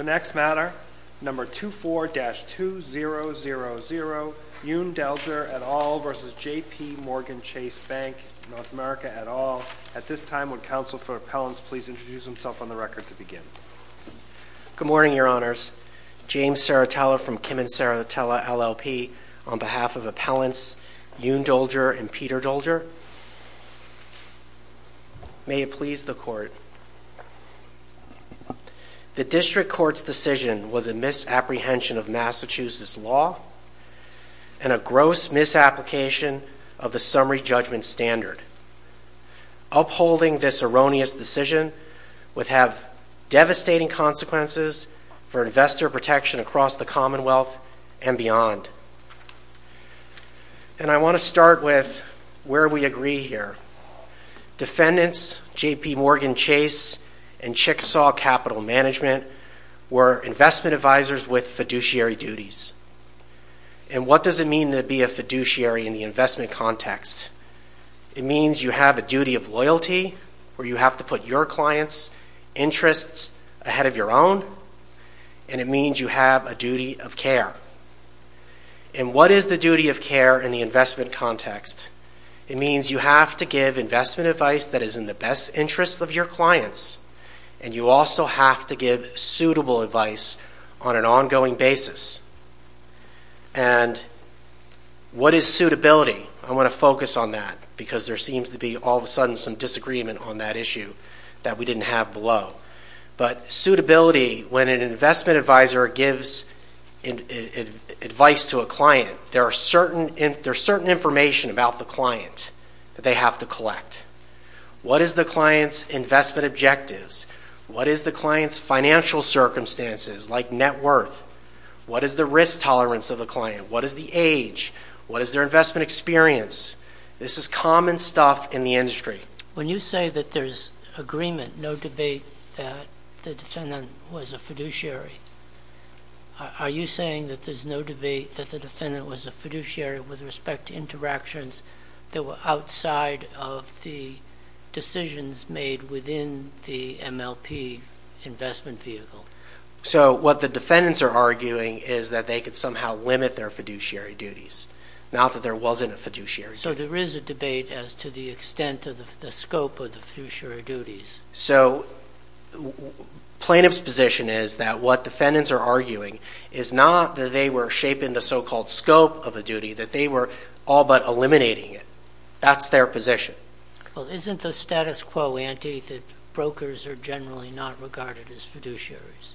The next matter, No. 24-2000, Yoon Doelger, et al. v. JPMorgan Chase Bank, N.A. et al. At this time, would counsel for appellants please introduce themselves on the record to begin? Good morning, your honors. James Saratella from Kim and Saratella LLP on behalf of appellants Yoon Doelger and Peter Doelger. May it please the court. The district court's decision was a misapprehension of Massachusetts law and a gross misapplication of the summary judgment standard. Upholding this erroneous decision would have devastating consequences for investor protection across the commonwealth and beyond. And I want to start with where we agree here. Defendants, JPMorgan Chase and Chickasaw Capital Management were investment advisors with fiduciary duties. And what does it mean to be a fiduciary in the investment context? It means you have a duty of loyalty where you have to put your clients' interests ahead of your own, and it means you have a duty of care. And what is the duty of care in the investment context? It means you have to give investment advice that is in the best interest of your clients, and you also have to give suitable advice on an ongoing basis. And what is suitability? I want to focus on that because there seems to be all of a sudden some disagreement on that issue that we didn't have below. But suitability, when an investment advisor gives advice to a client, there are certain information about the client that they have to collect. What is the client's investment objectives? What is the client's financial circumstances, like net worth? What is the risk tolerance of the client? What is the age? What is their investment experience? This is common stuff in the industry. When you say that there's agreement, no debate, that the defendant was a fiduciary, are you that were outside of the decisions made within the MLP investment vehicle? So what the defendants are arguing is that they could somehow limit their fiduciary duties, not that there wasn't a fiduciary duty. So there is a debate as to the extent of the scope of the fiduciary duties. So plaintiff's position is that what defendants are arguing is not that they were shaping the so-called scope of a duty, that they were all but eliminating it. That's their position. Well, isn't the status quo, Andy, that brokers are generally not regarded as fiduciaries?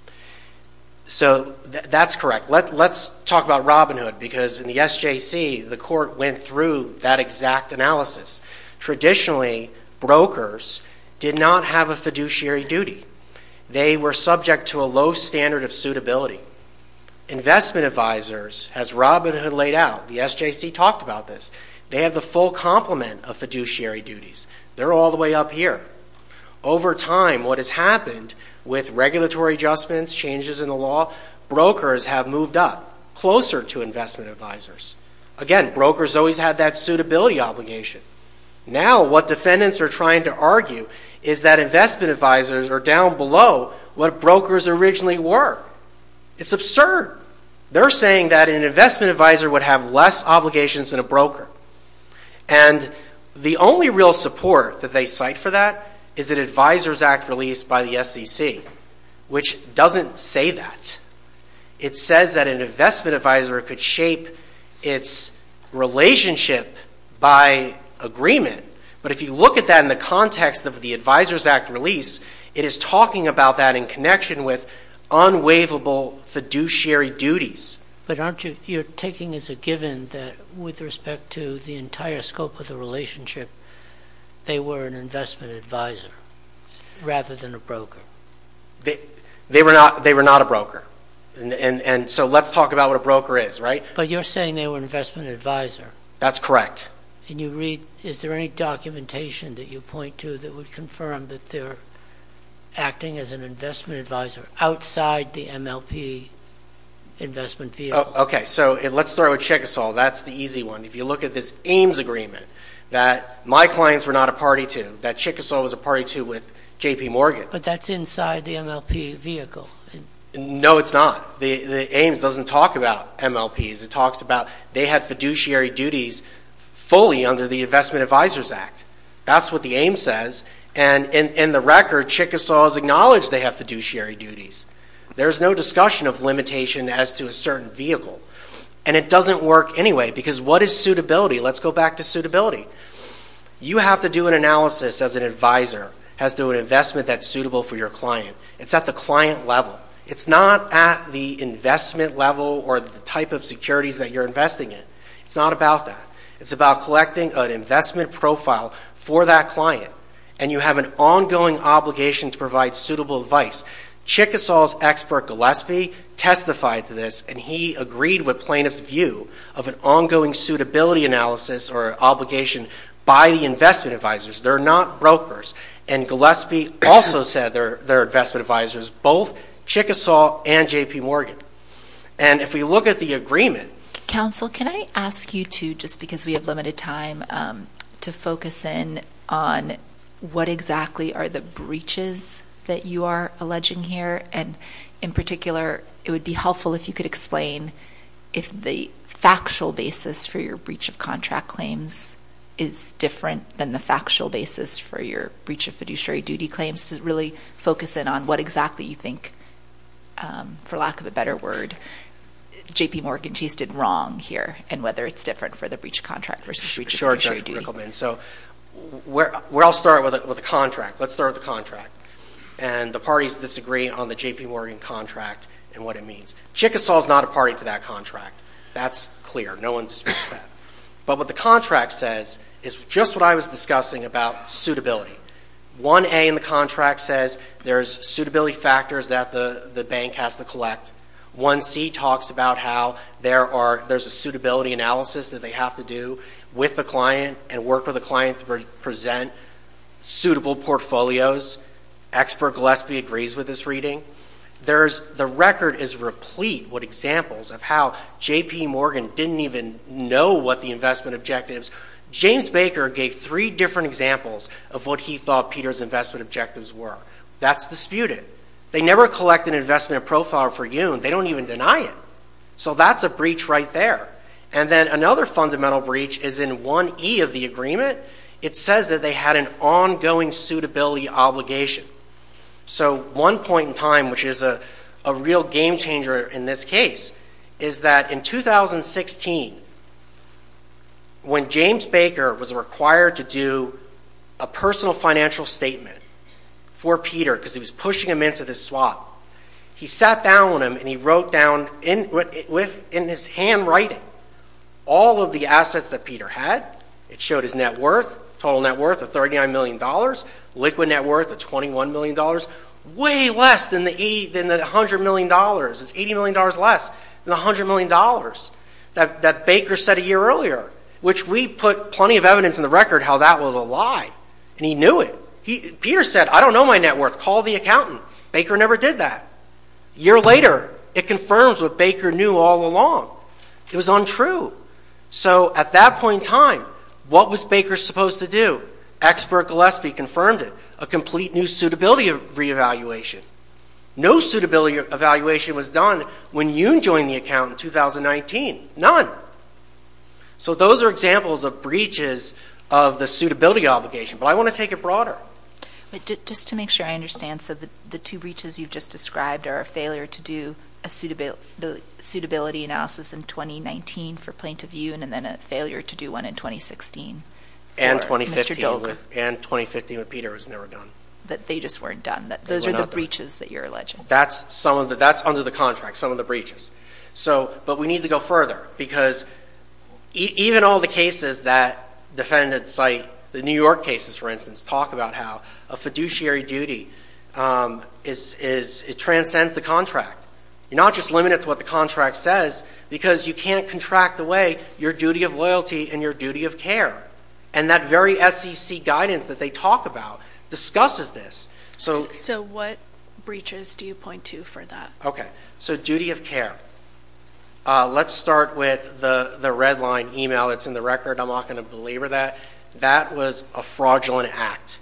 So that's correct. Let's talk about Robin Hood, because in the SJC, the court went through that exact analysis. Traditionally, brokers did not have a fiduciary duty. They were subject to a low standard of suitability. Investment advisors, as Robin Hood laid out, the SJC talked about this, they have the full complement of fiduciary duties. They're all the way up here. Over time, what has happened with regulatory adjustments, changes in the law, brokers have moved up, closer to investment advisors. Again, brokers always had that suitability obligation. Now, what defendants are trying to argue is that investment advisors are down below what brokers originally were. It's absurd. They're saying that an investment advisor would have less obligations than a broker. The only real support that they cite for that is an Advisors Act release by the SJC, which doesn't say that. It says that an investment advisor could shape its relationship by agreement. But if you look at that in the context of the Advisors Act release, it is talking about that in connection with unwaivable fiduciary duties. But aren't you taking as a given that with respect to the entire scope of the relationship, they were an investment advisor rather than a broker? They were not a broker. And so let's talk about what a broker is, right? But you're saying they were an investment advisor. That's correct. And you read, is there any documentation that you point to that would confirm that they're acting as an investment advisor outside the MLP investment vehicle? Okay. So let's start with Chickasaw. That's the easy one. If you look at this Ames Agreement that my clients were not a party to, that Chickasaw was a party to with J.P. Morgan. But that's inside the MLP vehicle. No, it's not. The Ames doesn't talk about MLPs. It talks about they had fiduciary duties fully under the Investment Advisors Act. That's what the Ames says. And in the record, Chickasaw has acknowledged they have fiduciary duties. There's no discussion of limitation as to a certain vehicle. And it doesn't work anyway because what is suitability? Let's go back to suitability. You have to do an analysis as an advisor as to an investment that's suitable for your client. It's at the client level. It's not at the investment level or the type of securities that you're investing in. It's not about that. It's about collecting an investment profile for that client. And you have an ongoing obligation to provide suitable advice. Chickasaw's expert, Gillespie, testified to this. And he agreed with plaintiff's view of an ongoing suitability analysis or obligation by the investment advisors. They're not brokers. And Gillespie also said they're investment advisors. Both Chickasaw and J.P. Morgan. And if we look at the agreement... Counsel, can I ask you to, just because we have limited time, to focus in on what exactly are the breaches that you are alleging here? And in particular, it would be helpful if you could explain if the factual basis for your breach of contract claims is different than the factual basis for your breach of fiduciary duty claims to really focus in on what exactly you think, for lack of a better word, J.P. Morgan, she's did wrong here, and whether it's different for the breach of contract versus breach of fiduciary duty. So, we'll start with the contract. Let's start with the contract. And the parties disagree on the J.P. Morgan contract and what it means. Chickasaw's not a party to that contract. That's clear. No one disputes that. But what the contract says is just what I was discussing about suitability. 1A in the contract says there's suitability factors that the bank has to collect. 1C talks about how there's a suitability analysis that they have to do with the client and work with the client to present suitable portfolios. Expert Gillespie agrees with this reading. The record is replete with examples of how J.P. Morgan didn't even know what the investment objectives... James Baker gave three different examples of what he thought Peter's investment objectives were. That's disputed. They never collect an investment profile for you. They don't even deny it. So, that's a breach right there. And then another fundamental breach is in 1E of the agreement. It says that they had an ongoing suitability obligation. So, one point in time, which is a real game changer in this case, is that in 2016, when James Baker was required to do a personal financial statement for Peter, because he was pushing him into this swap, he sat down with him and he wrote down in his handwriting all of the assets that Peter had. It showed his net worth, total net worth of $39 million, liquid net worth of $21 million, way less than the $100 million. It's $80 million less than the $100 million that Baker said a year earlier, which we put plenty of evidence in the record how that was a lie. And he knew it. Peter said, I don't know my net worth. Call the accountant. Baker never did that. A year later, it confirms what Baker knew all along. It was untrue. So, at that point in time, what was Baker supposed to do? Expert Gillespie confirmed it. A complete new suitability reevaluation. No suitability evaluation was done when you joined the account in 2019. So, those are examples of breaches of the suitability obligation. But I want to take it broader. But just to make sure I understand, so the two breaches you've just described are a failure to do a suitability analysis in 2019 for Plaintiff U and then a failure to do one in 2016. And 2015 when Peter was never done. That they just weren't done. Those are the breaches that you're alleging. That's under the contract, some of the breaches. So, but we need to go further. Because even all the cases that defendants cite, the New York cases, for instance, talk about how a fiduciary duty transcends the contract. You're not just limited to what the contract says because you can't contract away your duty of loyalty and your duty of care. And that very SEC guidance that they talk about discusses this. So, what breaches do you point to for that? Okay. So, duty of care. Let's start with the red line email that's in the record. I'm not going to belabor that. That was a fraudulent act.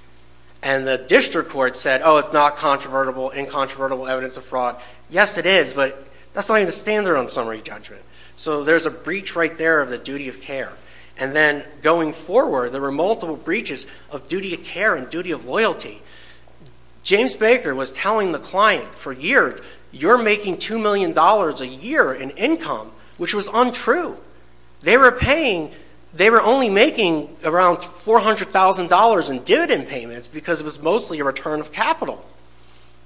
And the district court said, oh, it's not incontrovertible evidence of fraud. Yes, it is, but that's not even the standard on summary judgment. So, there's a breach right there of the duty of care. And then going forward, there were multiple breaches of duty of care and duty of loyalty. James Baker was telling the client for a year, you're making $2 million a year in income, which was untrue. They were paying, they were only making around $400,000 in dividend payments because it was mostly a return of capital.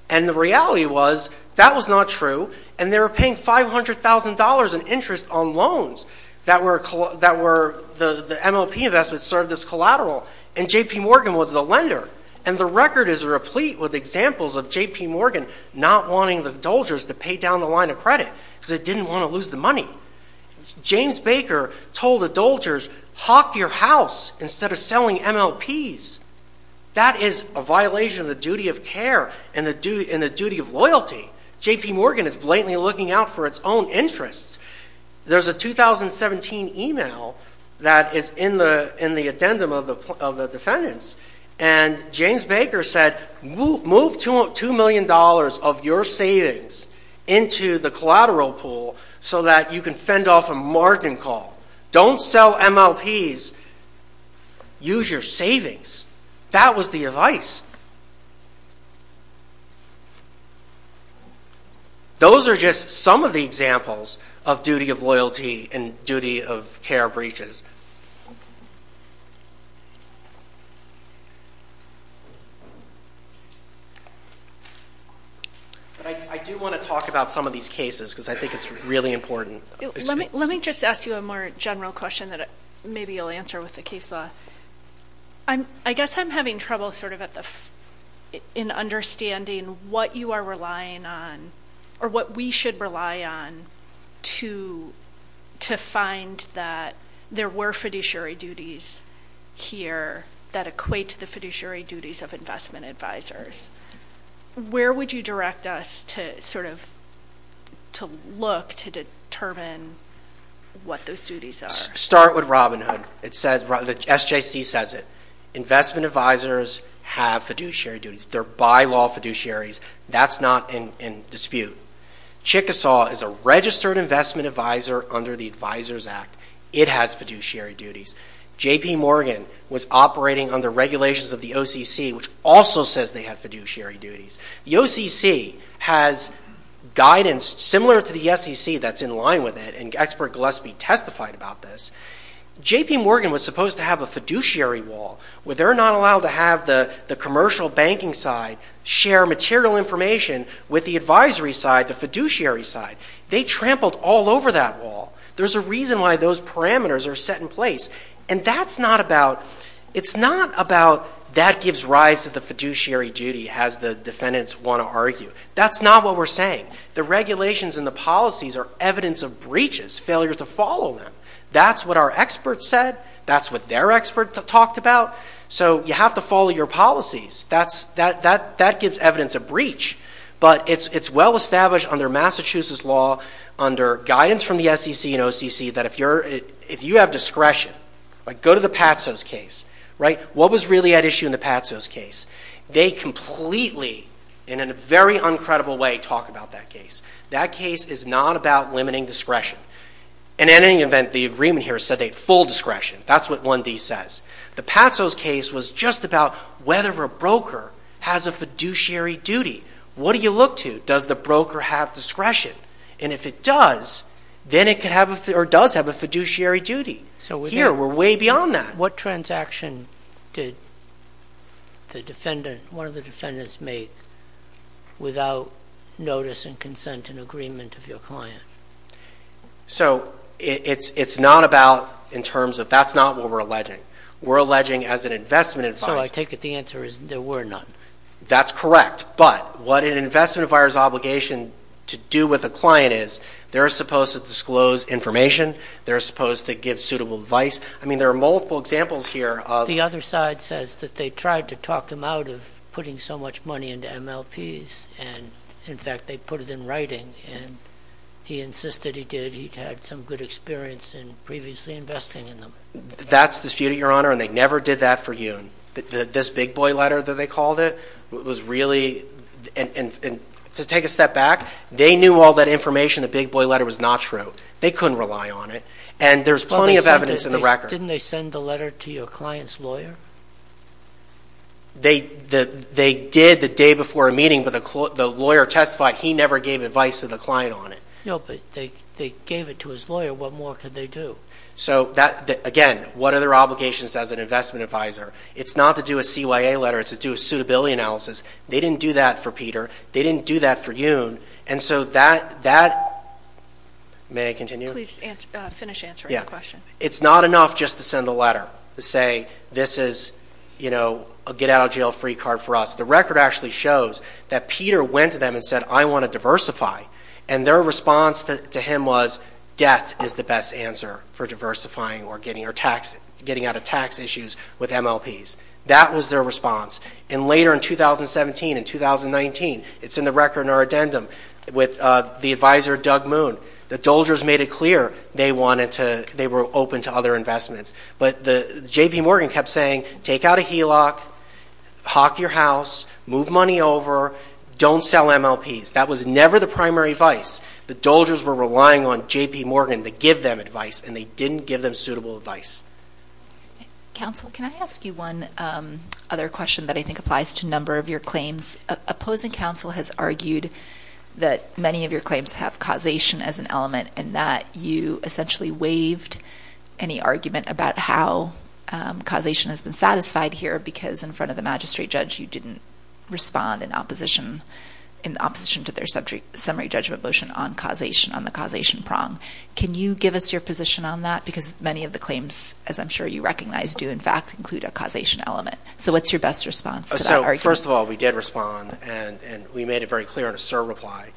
And the reality was that was not true. And they were paying $500,000 in interest on loans that were the MLP investments served as collateral. And JP Morgan was the lender. And the record is replete with examples of JP Morgan not wanting the doldgers to pay down the line of credit because they didn't want to lose the money. James Baker told the doldgers, hawk your house instead of selling MLPs. That is a violation of the duty of care and the duty of loyalty. JP Morgan is blatantly looking out for its own interests. There's a 2017 email that is in the addendum of the defendants. And James Baker said, move $2 million of your savings into the collateral pool so that you can fend off a margin call. Don't sell MLPs, use your savings. That was the advice. Those are just some of the examples of duty of loyalty and duty of care breaches. But I do want to talk about some of these cases because I think it's really important. Let me just ask you a more general question that maybe you'll answer with the case law. I guess I'm having trouble sort of in understanding what you are relying on or what we should rely on to find that there were fiduciary duties here that equate to the fiduciary duties of investment advisors. Where would you direct us to sort of to look to determine what those duties are? Start with Robinhood. It says, the SJC says it. Investment advisors have fiduciary duties. They're by-law fiduciaries. That's not in dispute. Chickasaw is a registered investment advisor under the Advisors Act. It has fiduciary duties. J.P. Morgan was operating under regulations of the OCC, which also says they have fiduciary duties. The OCC has guidance similar to the SEC that's in line with it and Expert Gillespie testified about this. J.P. Morgan was supposed to have a fiduciary wall. They're not allowed to have the commercial banking side share material information with the advisory side, the fiduciary side. They trampled all over that wall. There's a reason why those parameters are set in place. And it's not about that gives rise to the fiduciary duty, as the defendants want to argue. That's not what we're saying. The regulations and the policies are evidence of breaches, failures to follow them. That's what our experts said. That's what their experts talked about. So you have to follow your policies. That gives evidence of breach. But it's well-established under Massachusetts law, under guidance from the SEC and OCC, that if you have discretion, like go to the Patso's case, what was really at issue in the Patso's case? They completely, and in a very uncredible way, talk about that case. That case is not about limiting discretion. And in any event, the agreement here said they had full discretion. That's what 1D says. The Patso's case was just about whether a broker has a fiduciary duty. What do you look to? Does the broker have discretion? And if it does, then it does have a fiduciary duty. So here, we're way beyond that. What transaction did one of the defendants make without notice and consent and agreement of your client? So it's not about in terms of that's not what we're alleging. We're alleging as an investment advisor. So I take it the answer is there were none. That's correct. But what an investment advisor's obligation to do with a client is, they're supposed to disclose information. They're supposed to give suitable advice. I mean, there are multiple examples here. The other side says that they tried to talk them out of putting so much money into MLPs. And in fact, they put it in writing. And he insisted he did. He'd had some good experience in previously investing in them. That's disputed, Your Honor. And they never did that for you. This big boy letter that they called it was really. And to take a step back, they knew all that information. The big boy letter was not true. They couldn't rely on it. And there's plenty of evidence in the record. Didn't they send the letter to your client's lawyer? They did the day before a meeting. But the lawyer testified he never gave advice to the client on it. No, but they gave it to his lawyer. What more could they do? So again, what are their obligations as an investment advisor? It's not to do a CYA letter. It's to do a suitability analysis. They didn't do that for Peter. They didn't do that for Yoon. And so that, may I continue? Please finish answering the question. It's not enough just to send a letter to say, this is a get out of jail free card for us. The record actually shows that Peter went to them and said, I want to diversify. And their response to him was, death is the best answer for diversifying or getting out of tax issues with MLPs. That was their response. And later in 2017 and 2019, it's in the record in our addendum with the advisor Doug Moon. The Doldres made it clear they were open to other investments. But J.P. Morgan kept saying, take out a HELOC, hawk your house, move money over, don't sell MLPs. That was never the primary vice. The Doldres were relying on J.P. Morgan to give them advice. And they didn't give them suitable advice. Counsel, can I ask you one other question that I think applies to a number of your claims? Opposing counsel has argued that many of your claims have causation as an element, and that you essentially waived any argument about how causation has been satisfied here, because in front of the magistrate judge, you didn't respond in opposition to their summary judgment motion on causation, on the causation prong. Can you give us your position on that? Because many of the claims, as I'm sure you recognize, do, in fact, include a causation element. So what's your best response to that argument? So first of all, we did respond, and we made it very clear in a SIR reply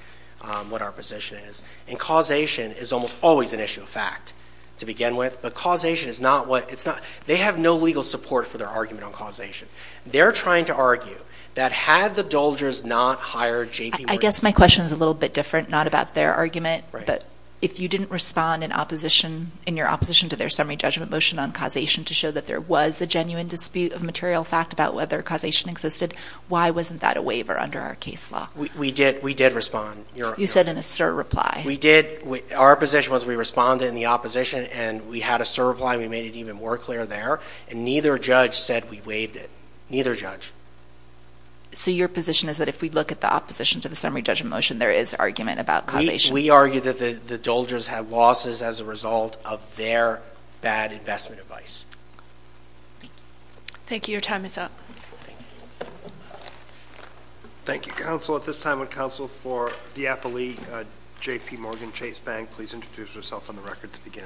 what our position is. And causation is almost always an issue of fact to begin with. But causation is not what it's not. They have no legal support for their argument on causation. They're trying to argue that had the Doldres not hired J.P. I guess my question is a little bit different, not about their argument. But if you didn't respond in your opposition to their summary judgment motion on causation to show that there was a genuine dispute of material fact about whether causation existed, why wasn't that a waiver under our case law? We did respond. You said in a SIR reply. Our position was we responded in the opposition, and we had a SIR reply. We made it even more clear there. And neither judge said we waived it. Neither judge. So your position is that if we look at the opposition to the summary judgment motion, there is argument about causation. We argue that the Doldres had losses as a result of their bad investment advice. Thank you. Your time is up. Thank you, counsel. At this time, would counsel for the Appalachian J.P. Morgan Chase Bank please introduce herself on the record to begin?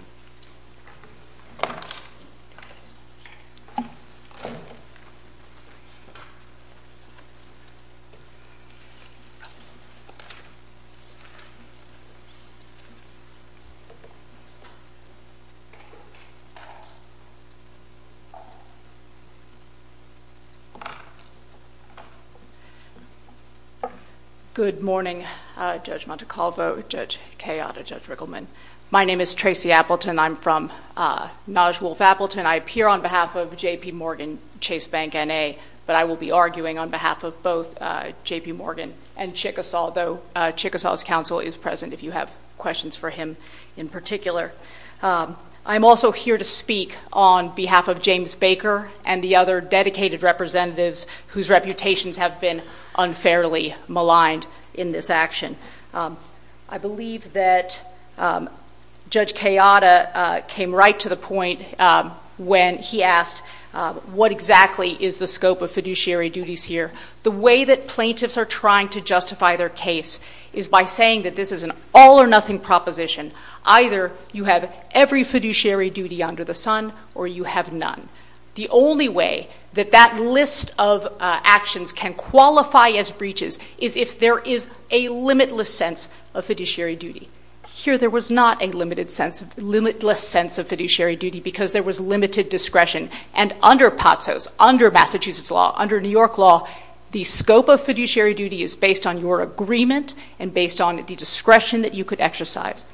Good morning, Judge Montecalvo, Judge Cayotta, Judge Riggleman. My name is Tracy Appleton. I'm from Nosh Wolf Appleton. I appear on behalf of J.P. Morgan Chase Bank N.A. But I will be arguing on behalf of both J.P. Morgan and Chickasaw, though Chickasaw's counsel is present in this case. If you have questions for him in particular. I'm also here to speak on behalf of James Baker and the other dedicated representatives whose reputations have been unfairly maligned in this action. I believe that Judge Cayotta came right to the point when he asked, what exactly is the scope of fiduciary duties here? The way that plaintiffs are trying to justify their case is by saying that this is an all or nothing proposition. Either you have every fiduciary duty under the sun or you have none. The only way that that list of actions can qualify as breaches is if there is a limitless sense of fiduciary duty. Here there was not a limitless sense of fiduciary duty because there was limited discretion. And under POTSOS, under Massachusetts law, under New York law, the scope of fiduciary duty is based on your agreement and based on the discretion that you could exercise.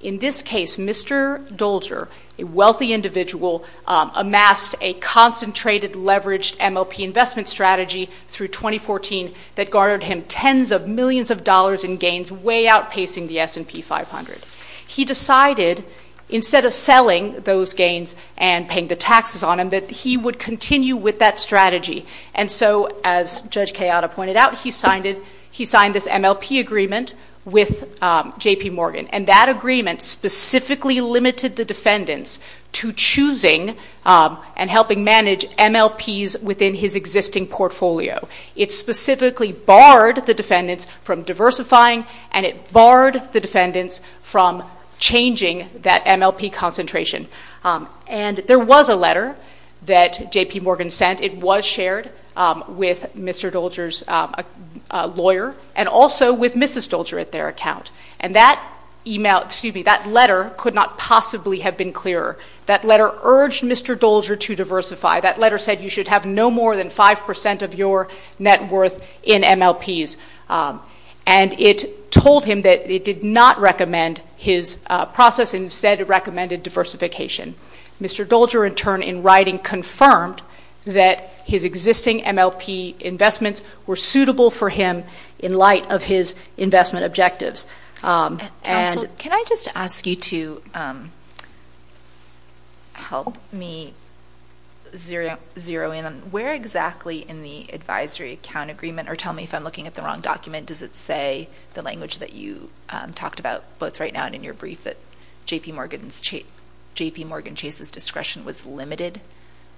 In this case, Mr. Dolger, a wealthy individual, amassed a concentrated leveraged MLP investment strategy through 2014 that garnered him tens of millions of dollars in gains way outpacing the S&P 500. He decided, instead of selling those gains and paying the taxes on them, that he would continue with that strategy. And so as Judge Kayada pointed out, he signed this MLP agreement with JP Morgan. And that agreement specifically limited the defendants to choosing and helping manage MLPs within his existing portfolio. It specifically barred the defendants from diversifying and it barred the defendants from changing that MLP concentration. And there was a letter that JP Morgan sent. It was shared with Mr. Dolger's lawyer and also with Mrs. Dolger at their account. And that email, excuse me, that letter could not possibly have been clearer. That letter urged Mr. Dolger to diversify. That letter said you should have no more than 5% of your net worth in MLPs. And it told him that it did not recommend his process and instead recommended diversification. Mr. Dolger, in turn, in writing confirmed that his existing MLP investments were suitable for him in light of his investment objectives. And- Counsel, can I just ask you to help me zero in where exactly in the advisory account agreement or tell me if I'm looking at the wrong document, does it say the language that you talked about both right now and in your brief that JP Morgan Chase's discretion was limited?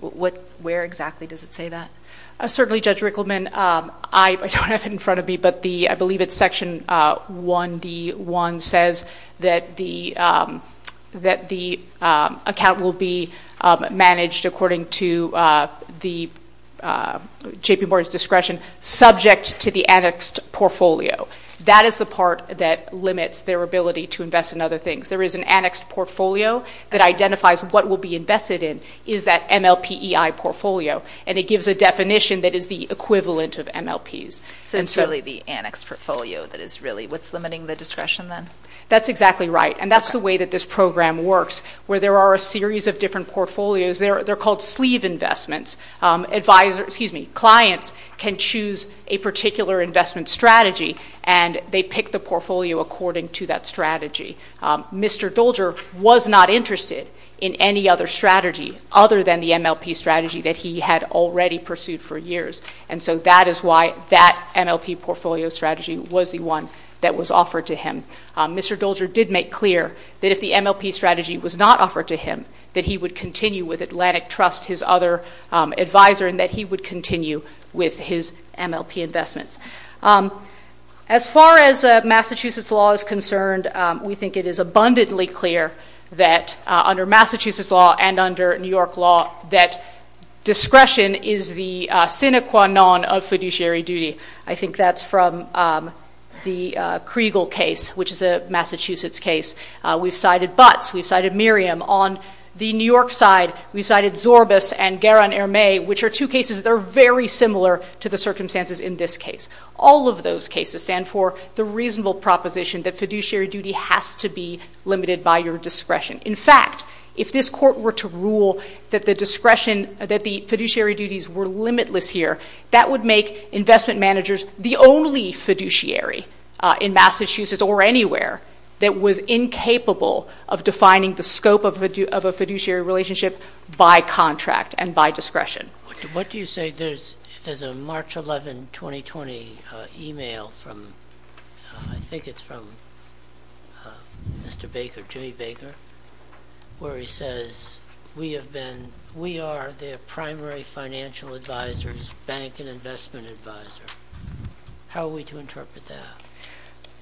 What, where exactly does it say that? Certainly, Judge Rickleman, I don't have it in front of me, but the, I believe it's section 1D1 says that the account will be managed according to the JP Morgan's discretion subject to the annexed portfolio. That is the part that limits their ability to invest in other things. There is an annexed portfolio that identifies what will be invested in. It is that MLPEI portfolio, and it gives a definition that is the equivalent of MLPs. So it's really the annexed portfolio that is really, what's limiting the discretion then? That's exactly right. And that's the way that this program works, where there are a series of different portfolios. They're called sleeve investments. Advisor, excuse me, clients can choose a particular investment strategy and they pick the portfolio according to that strategy. Mr. Dolger was not interested in any other strategy other than the MLP strategy that he had already pursued for years. And so that is why that MLP portfolio strategy was the one that was offered to him. Mr. Dolger did make clear that if the MLP strategy was not offered to him, that he would continue with Atlantic Trust, his other advisor, and that he would continue with his MLP investments. As far as Massachusetts law is concerned, we think it is abundantly clear that under Massachusetts law and under New York law that discretion is the sine qua non of fiduciary duty. I think that's from the Kriegel case, which is a Massachusetts case. We've cited Butts, we've cited Miriam. On the New York side, we've cited Zorbas and Guerin-Hermé, which are two cases that are very similar to the circumstances in this case. All of those cases stand for the reasonable proposition that fiduciary duty has to be limited by your discretion. In fact, if this court were to rule that the discretion, that the fiduciary duties were limitless here, that would make investment managers the only fiduciary in Massachusetts or anywhere that was incapable of defining the scope of a fiduciary relationship by contract and by discretion. What do you say, there's a March 11, 2020 email from, I think it's from Mr. Baker, Jimmy Baker, where he says, we have been, we are their primary financial advisors, bank and investment advisor. How are we to interpret that?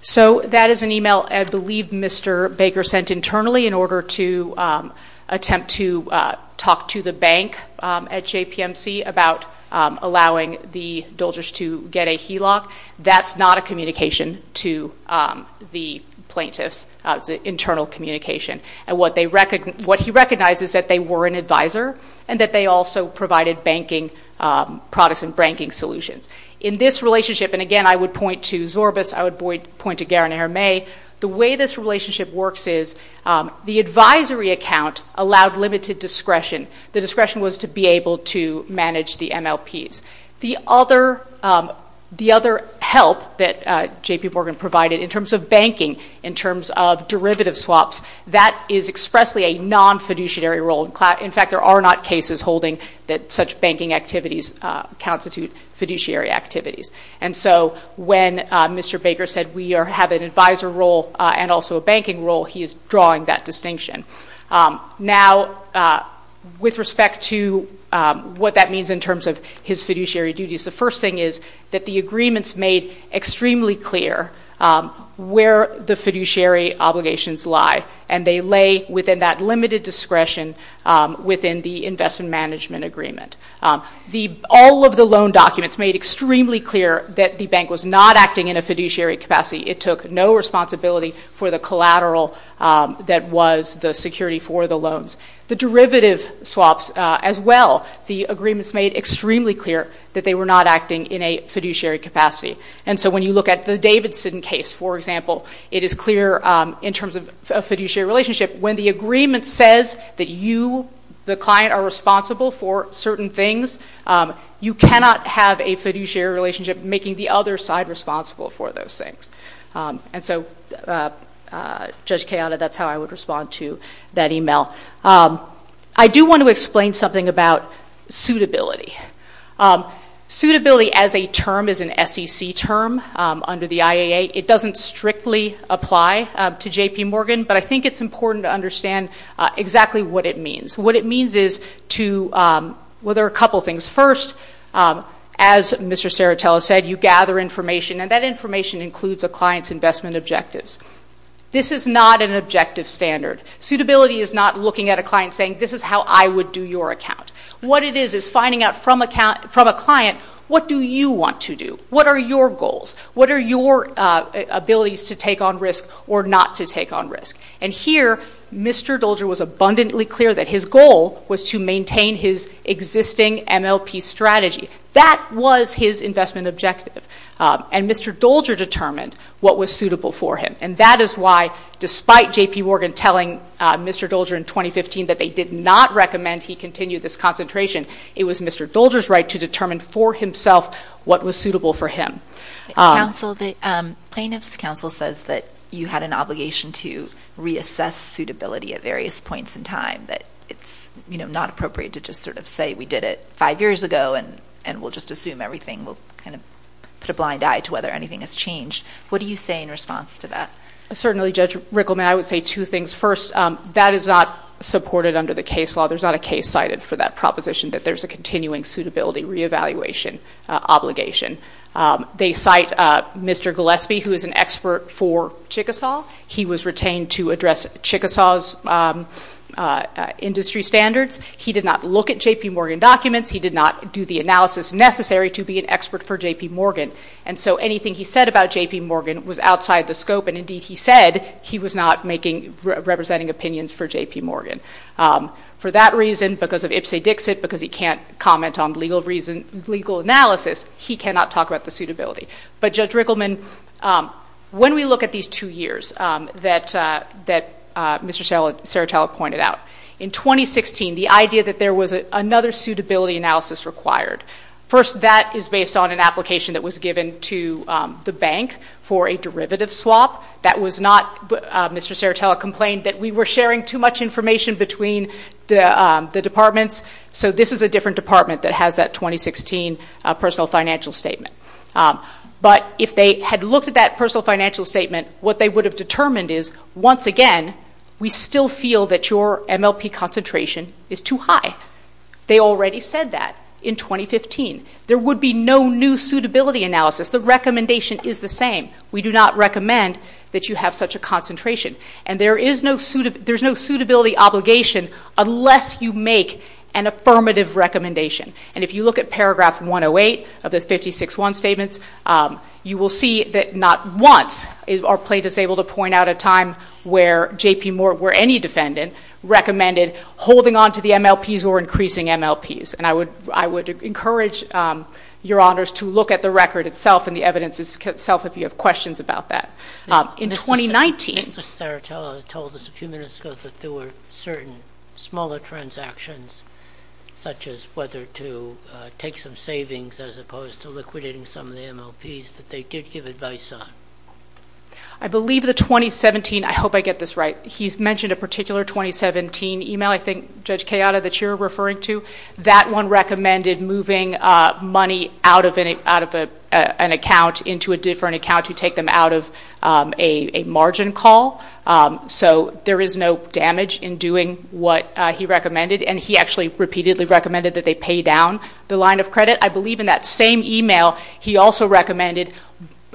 So that is an email I believe Mr. Baker sent internally in order to attempt to talk to the bank at JPMC about allowing the Dulges to get a HELOC. That's not a communication to the plaintiffs, it's an internal communication. And what they, what he recognizes that they were an advisor and that they also provided banking, Protestant banking solutions. In this relationship, and again, I would point to Zorbas, I would point to Guérin-Hermé. The way this relationship works is the advisory account allowed limited discretion. The discretion was to be able to manage the MLPs. The other help that JP Morgan provided in terms of banking, in terms of derivative swaps, that is expressly a non-fiduciary role. In fact, there are not cases holding that such banking activities constitute fiduciary activities. And so when Mr. Baker said, we have an advisor role and also a banking role, he is drawing that distinction. Now, with respect to what that means in terms of his fiduciary duties, the first thing is that the agreements made extremely clear where the fiduciary obligations lie. And they lay within that limited discretion within the investment management agreement. All of the loan documents made extremely clear that the bank was not acting in a fiduciary capacity. It took no responsibility for the collateral that was the security for the loans. The derivative swaps as well, the agreements made extremely clear that they were not acting in a fiduciary capacity. And so when you look at the Davidson case, for example, it is clear in terms of a fiduciary relationship. When the agreement says that you, the client are responsible for certain things, you cannot have a fiduciary relationship making the other side responsible for those things. And so, Judge Kayada, that's how I would respond to that email. I do want to explain something about suitability. Suitability as a term is an SEC term under the IAA. It doesn't strictly apply to J.P. Morgan, but I think it's important to understand exactly what it means. What it means is to, well, there are a couple of things. First, as Mr. Serratella said, you gather information and that information includes a client's investment objectives. This is not an objective standard. Suitability is not looking at a client saying, this is how I would do your account. What it is, is finding out from a client, what do you want to do? What are your goals? What are your abilities to take on risk or not to take on risk? And here, Mr. Dolger was abundantly clear that his goal was to maintain his existing MLP strategy. That was his investment objective. And Mr. Dolger determined what was suitable for him. And that is why, despite J.P. Morgan telling Mr. Dolger in 2015 that they did not recommend he continue this concentration, it was Mr. Dolger's right to determine for himself what was suitable for him. Plaintiff's counsel says that you had an obligation to reassess suitability at various points in time, that it's not appropriate to just sort of say, we did it five years ago and we'll just assume everything. We'll kind of put a blind eye to whether anything has changed. What do you say in response to that? Certainly, Judge Rickleman, I would say two things. First, that is not supported under the case law. There's not a case cited for that proposition that there's a continuing suitability reevaluation obligation. They cite Mr. Gillespie, who is an expert for Chickasaw. He was retained to address Chickasaw's industry standards. He did not look at J.P. Morgan documents. He did not do the analysis necessary to be an expert for J.P. Morgan. And so anything he said about J.P. Morgan was outside the scope. And indeed, he said he was not representing opinions for J.P. Morgan. For that reason, because of ipsa dixit, because he can't comment on legal analysis, he cannot talk about the suitability. But Judge Rickleman, when we look at these two years that Mr. Saratella pointed out, in 2016, the idea that there was another suitability analysis required, first, that is based on an application that was given to the bank for a derivative swap. That was not Mr. Saratella complained that we were sharing too much information between the departments. So this is a different department that has that 2016 personal financial statement. But if they had looked at that personal financial statement, what they would have determined is, once again, we still feel that your MLP concentration is too high. They already said that in 2015. There would be no new suitability analysis. The recommendation is the same. We do not recommend that you have such a concentration. And there is no suitability obligation unless you make an affirmative recommendation. And if you look at paragraph 108 of the 56-1 statements, you will see that not once are plaintiffs able to point out a time where J.P. Morgan, where any defendant, recommended holding onto the MLPs or increasing MLPs. And I would encourage your honors to look at the record itself and the evidence itself if you have questions about that. In 2019. Mr. Saratella told us a few minutes ago that there were certain smaller transactions, such as whether to take some savings as opposed to liquidating some of the MLPs that they did give advice on. I believe the 2017, I hope I get this right, he's mentioned a particular 2017 email, I think, Judge Kayada, that you're referring to. That one recommended moving money out of an account into a different account to take them out of a margin call. So there is no damage in doing what he recommended. And he actually repeatedly recommended that they pay down the line of credit. I believe in that same email, he also recommended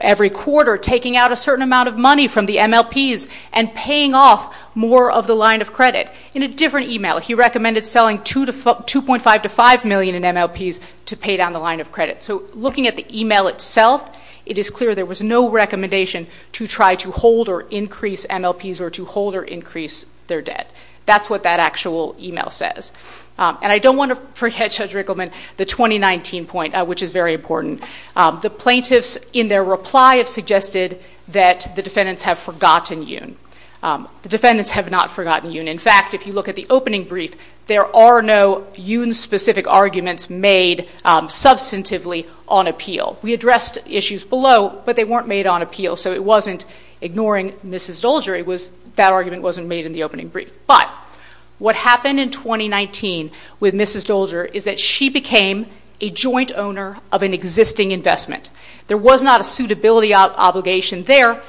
every quarter taking out a certain amount of money from the MLPs and paying off more of the line of credit. In a different email, he recommended selling $2.5 to $5 million in MLPs to pay down the line of credit. So looking at the email itself, it is clear there was no recommendation to try to hold or increase MLPs or to hold or increase their debt. That's what that actual email says. And I don't want to forget, Judge Rickleman, the 2019 point, which is very important. The plaintiffs, in their reply, have suggested that the defendants have forgotten Yuen. The defendants have not forgotten Yuen. In fact, if you look at the opening brief, there are no Yuen-specific arguments made substantively on appeal. We addressed issues below, but they weren't made on appeal. So it wasn't ignoring Mrs. Dolger, that argument wasn't made in the opening brief. But what happened in 2019 with Mrs. Dolger is that she became a joint owner of an existing investment. There was not a suitability obligation there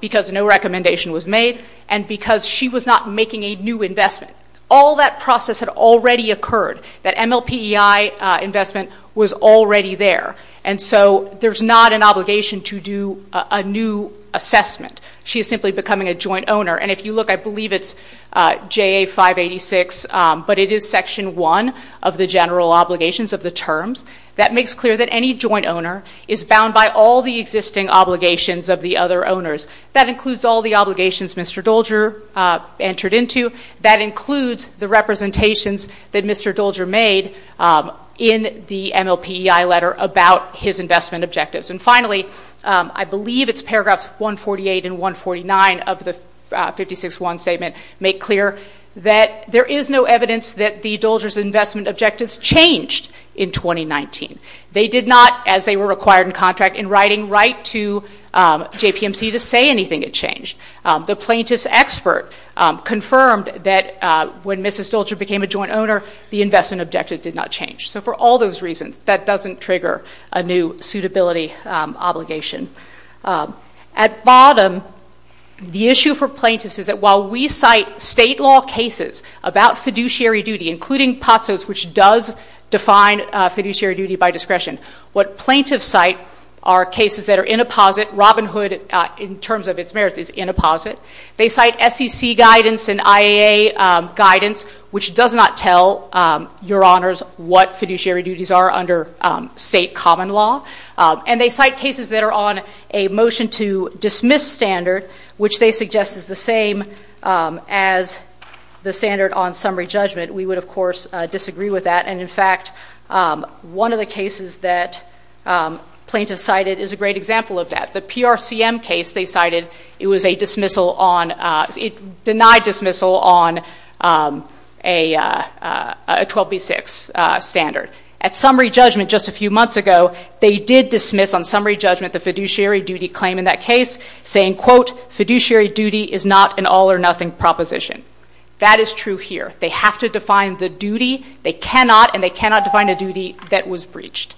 because no recommendation was made and because she was not making a new investment. All that process had already occurred. That MLPEI investment was already there. And so there's not an obligation to do a new assessment. She is simply becoming a joint owner. And if you look, I believe it's JA 586, but it is section one of the general obligations of the terms. That makes clear that any joint owner is bound by all the existing obligations of the other owners. That includes all the obligations Mr. Dolger entered into. That includes the representations that Mr. Dolger made in the MLPEI letter about his investment objectives. And finally, I believe it's paragraphs 148 and 149 of the 56-1 statement make clear that there is no evidence that the Dolger's investment objectives changed in 2019. They did not, as they were required in contract in writing, write to JPMC to say anything had changed. The plaintiff's expert confirmed that when Mrs. Dolger became a joint owner, the investment objective did not change. So for all those reasons, that doesn't trigger a new suitability obligation. At bottom, the issue for plaintiffs is that while we cite state law cases about fiduciary duty, including POTSOS, which does define fiduciary duty by discretion, what plaintiffs cite are cases that are in a posit, Robin Hood, in terms of its merits, is in a posit. They cite SEC guidance and IAA guidance, which does not tell your honors what fiduciary duties are under state common law. And they cite cases that are on a motion to dismiss standard, which they suggest is the same as the standard on summary judgment. We would, of course, disagree with that. And in fact, one of the cases that plaintiffs cited is a great example of that. The PRCM case they cited, it was a dismissal on, it denied dismissal on a 12B6 standard. At summary judgment just a few months ago, they did dismiss on summary judgment the fiduciary duty claim in that case, saying, quote, fiduciary duty is not an all or nothing proposition. That is true here. They have to define the duty, they cannot, and they cannot define a duty that was breached.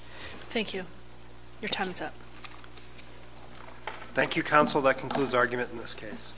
Thank you. Your time is up. Thank you, counsel. That concludes argument in this case.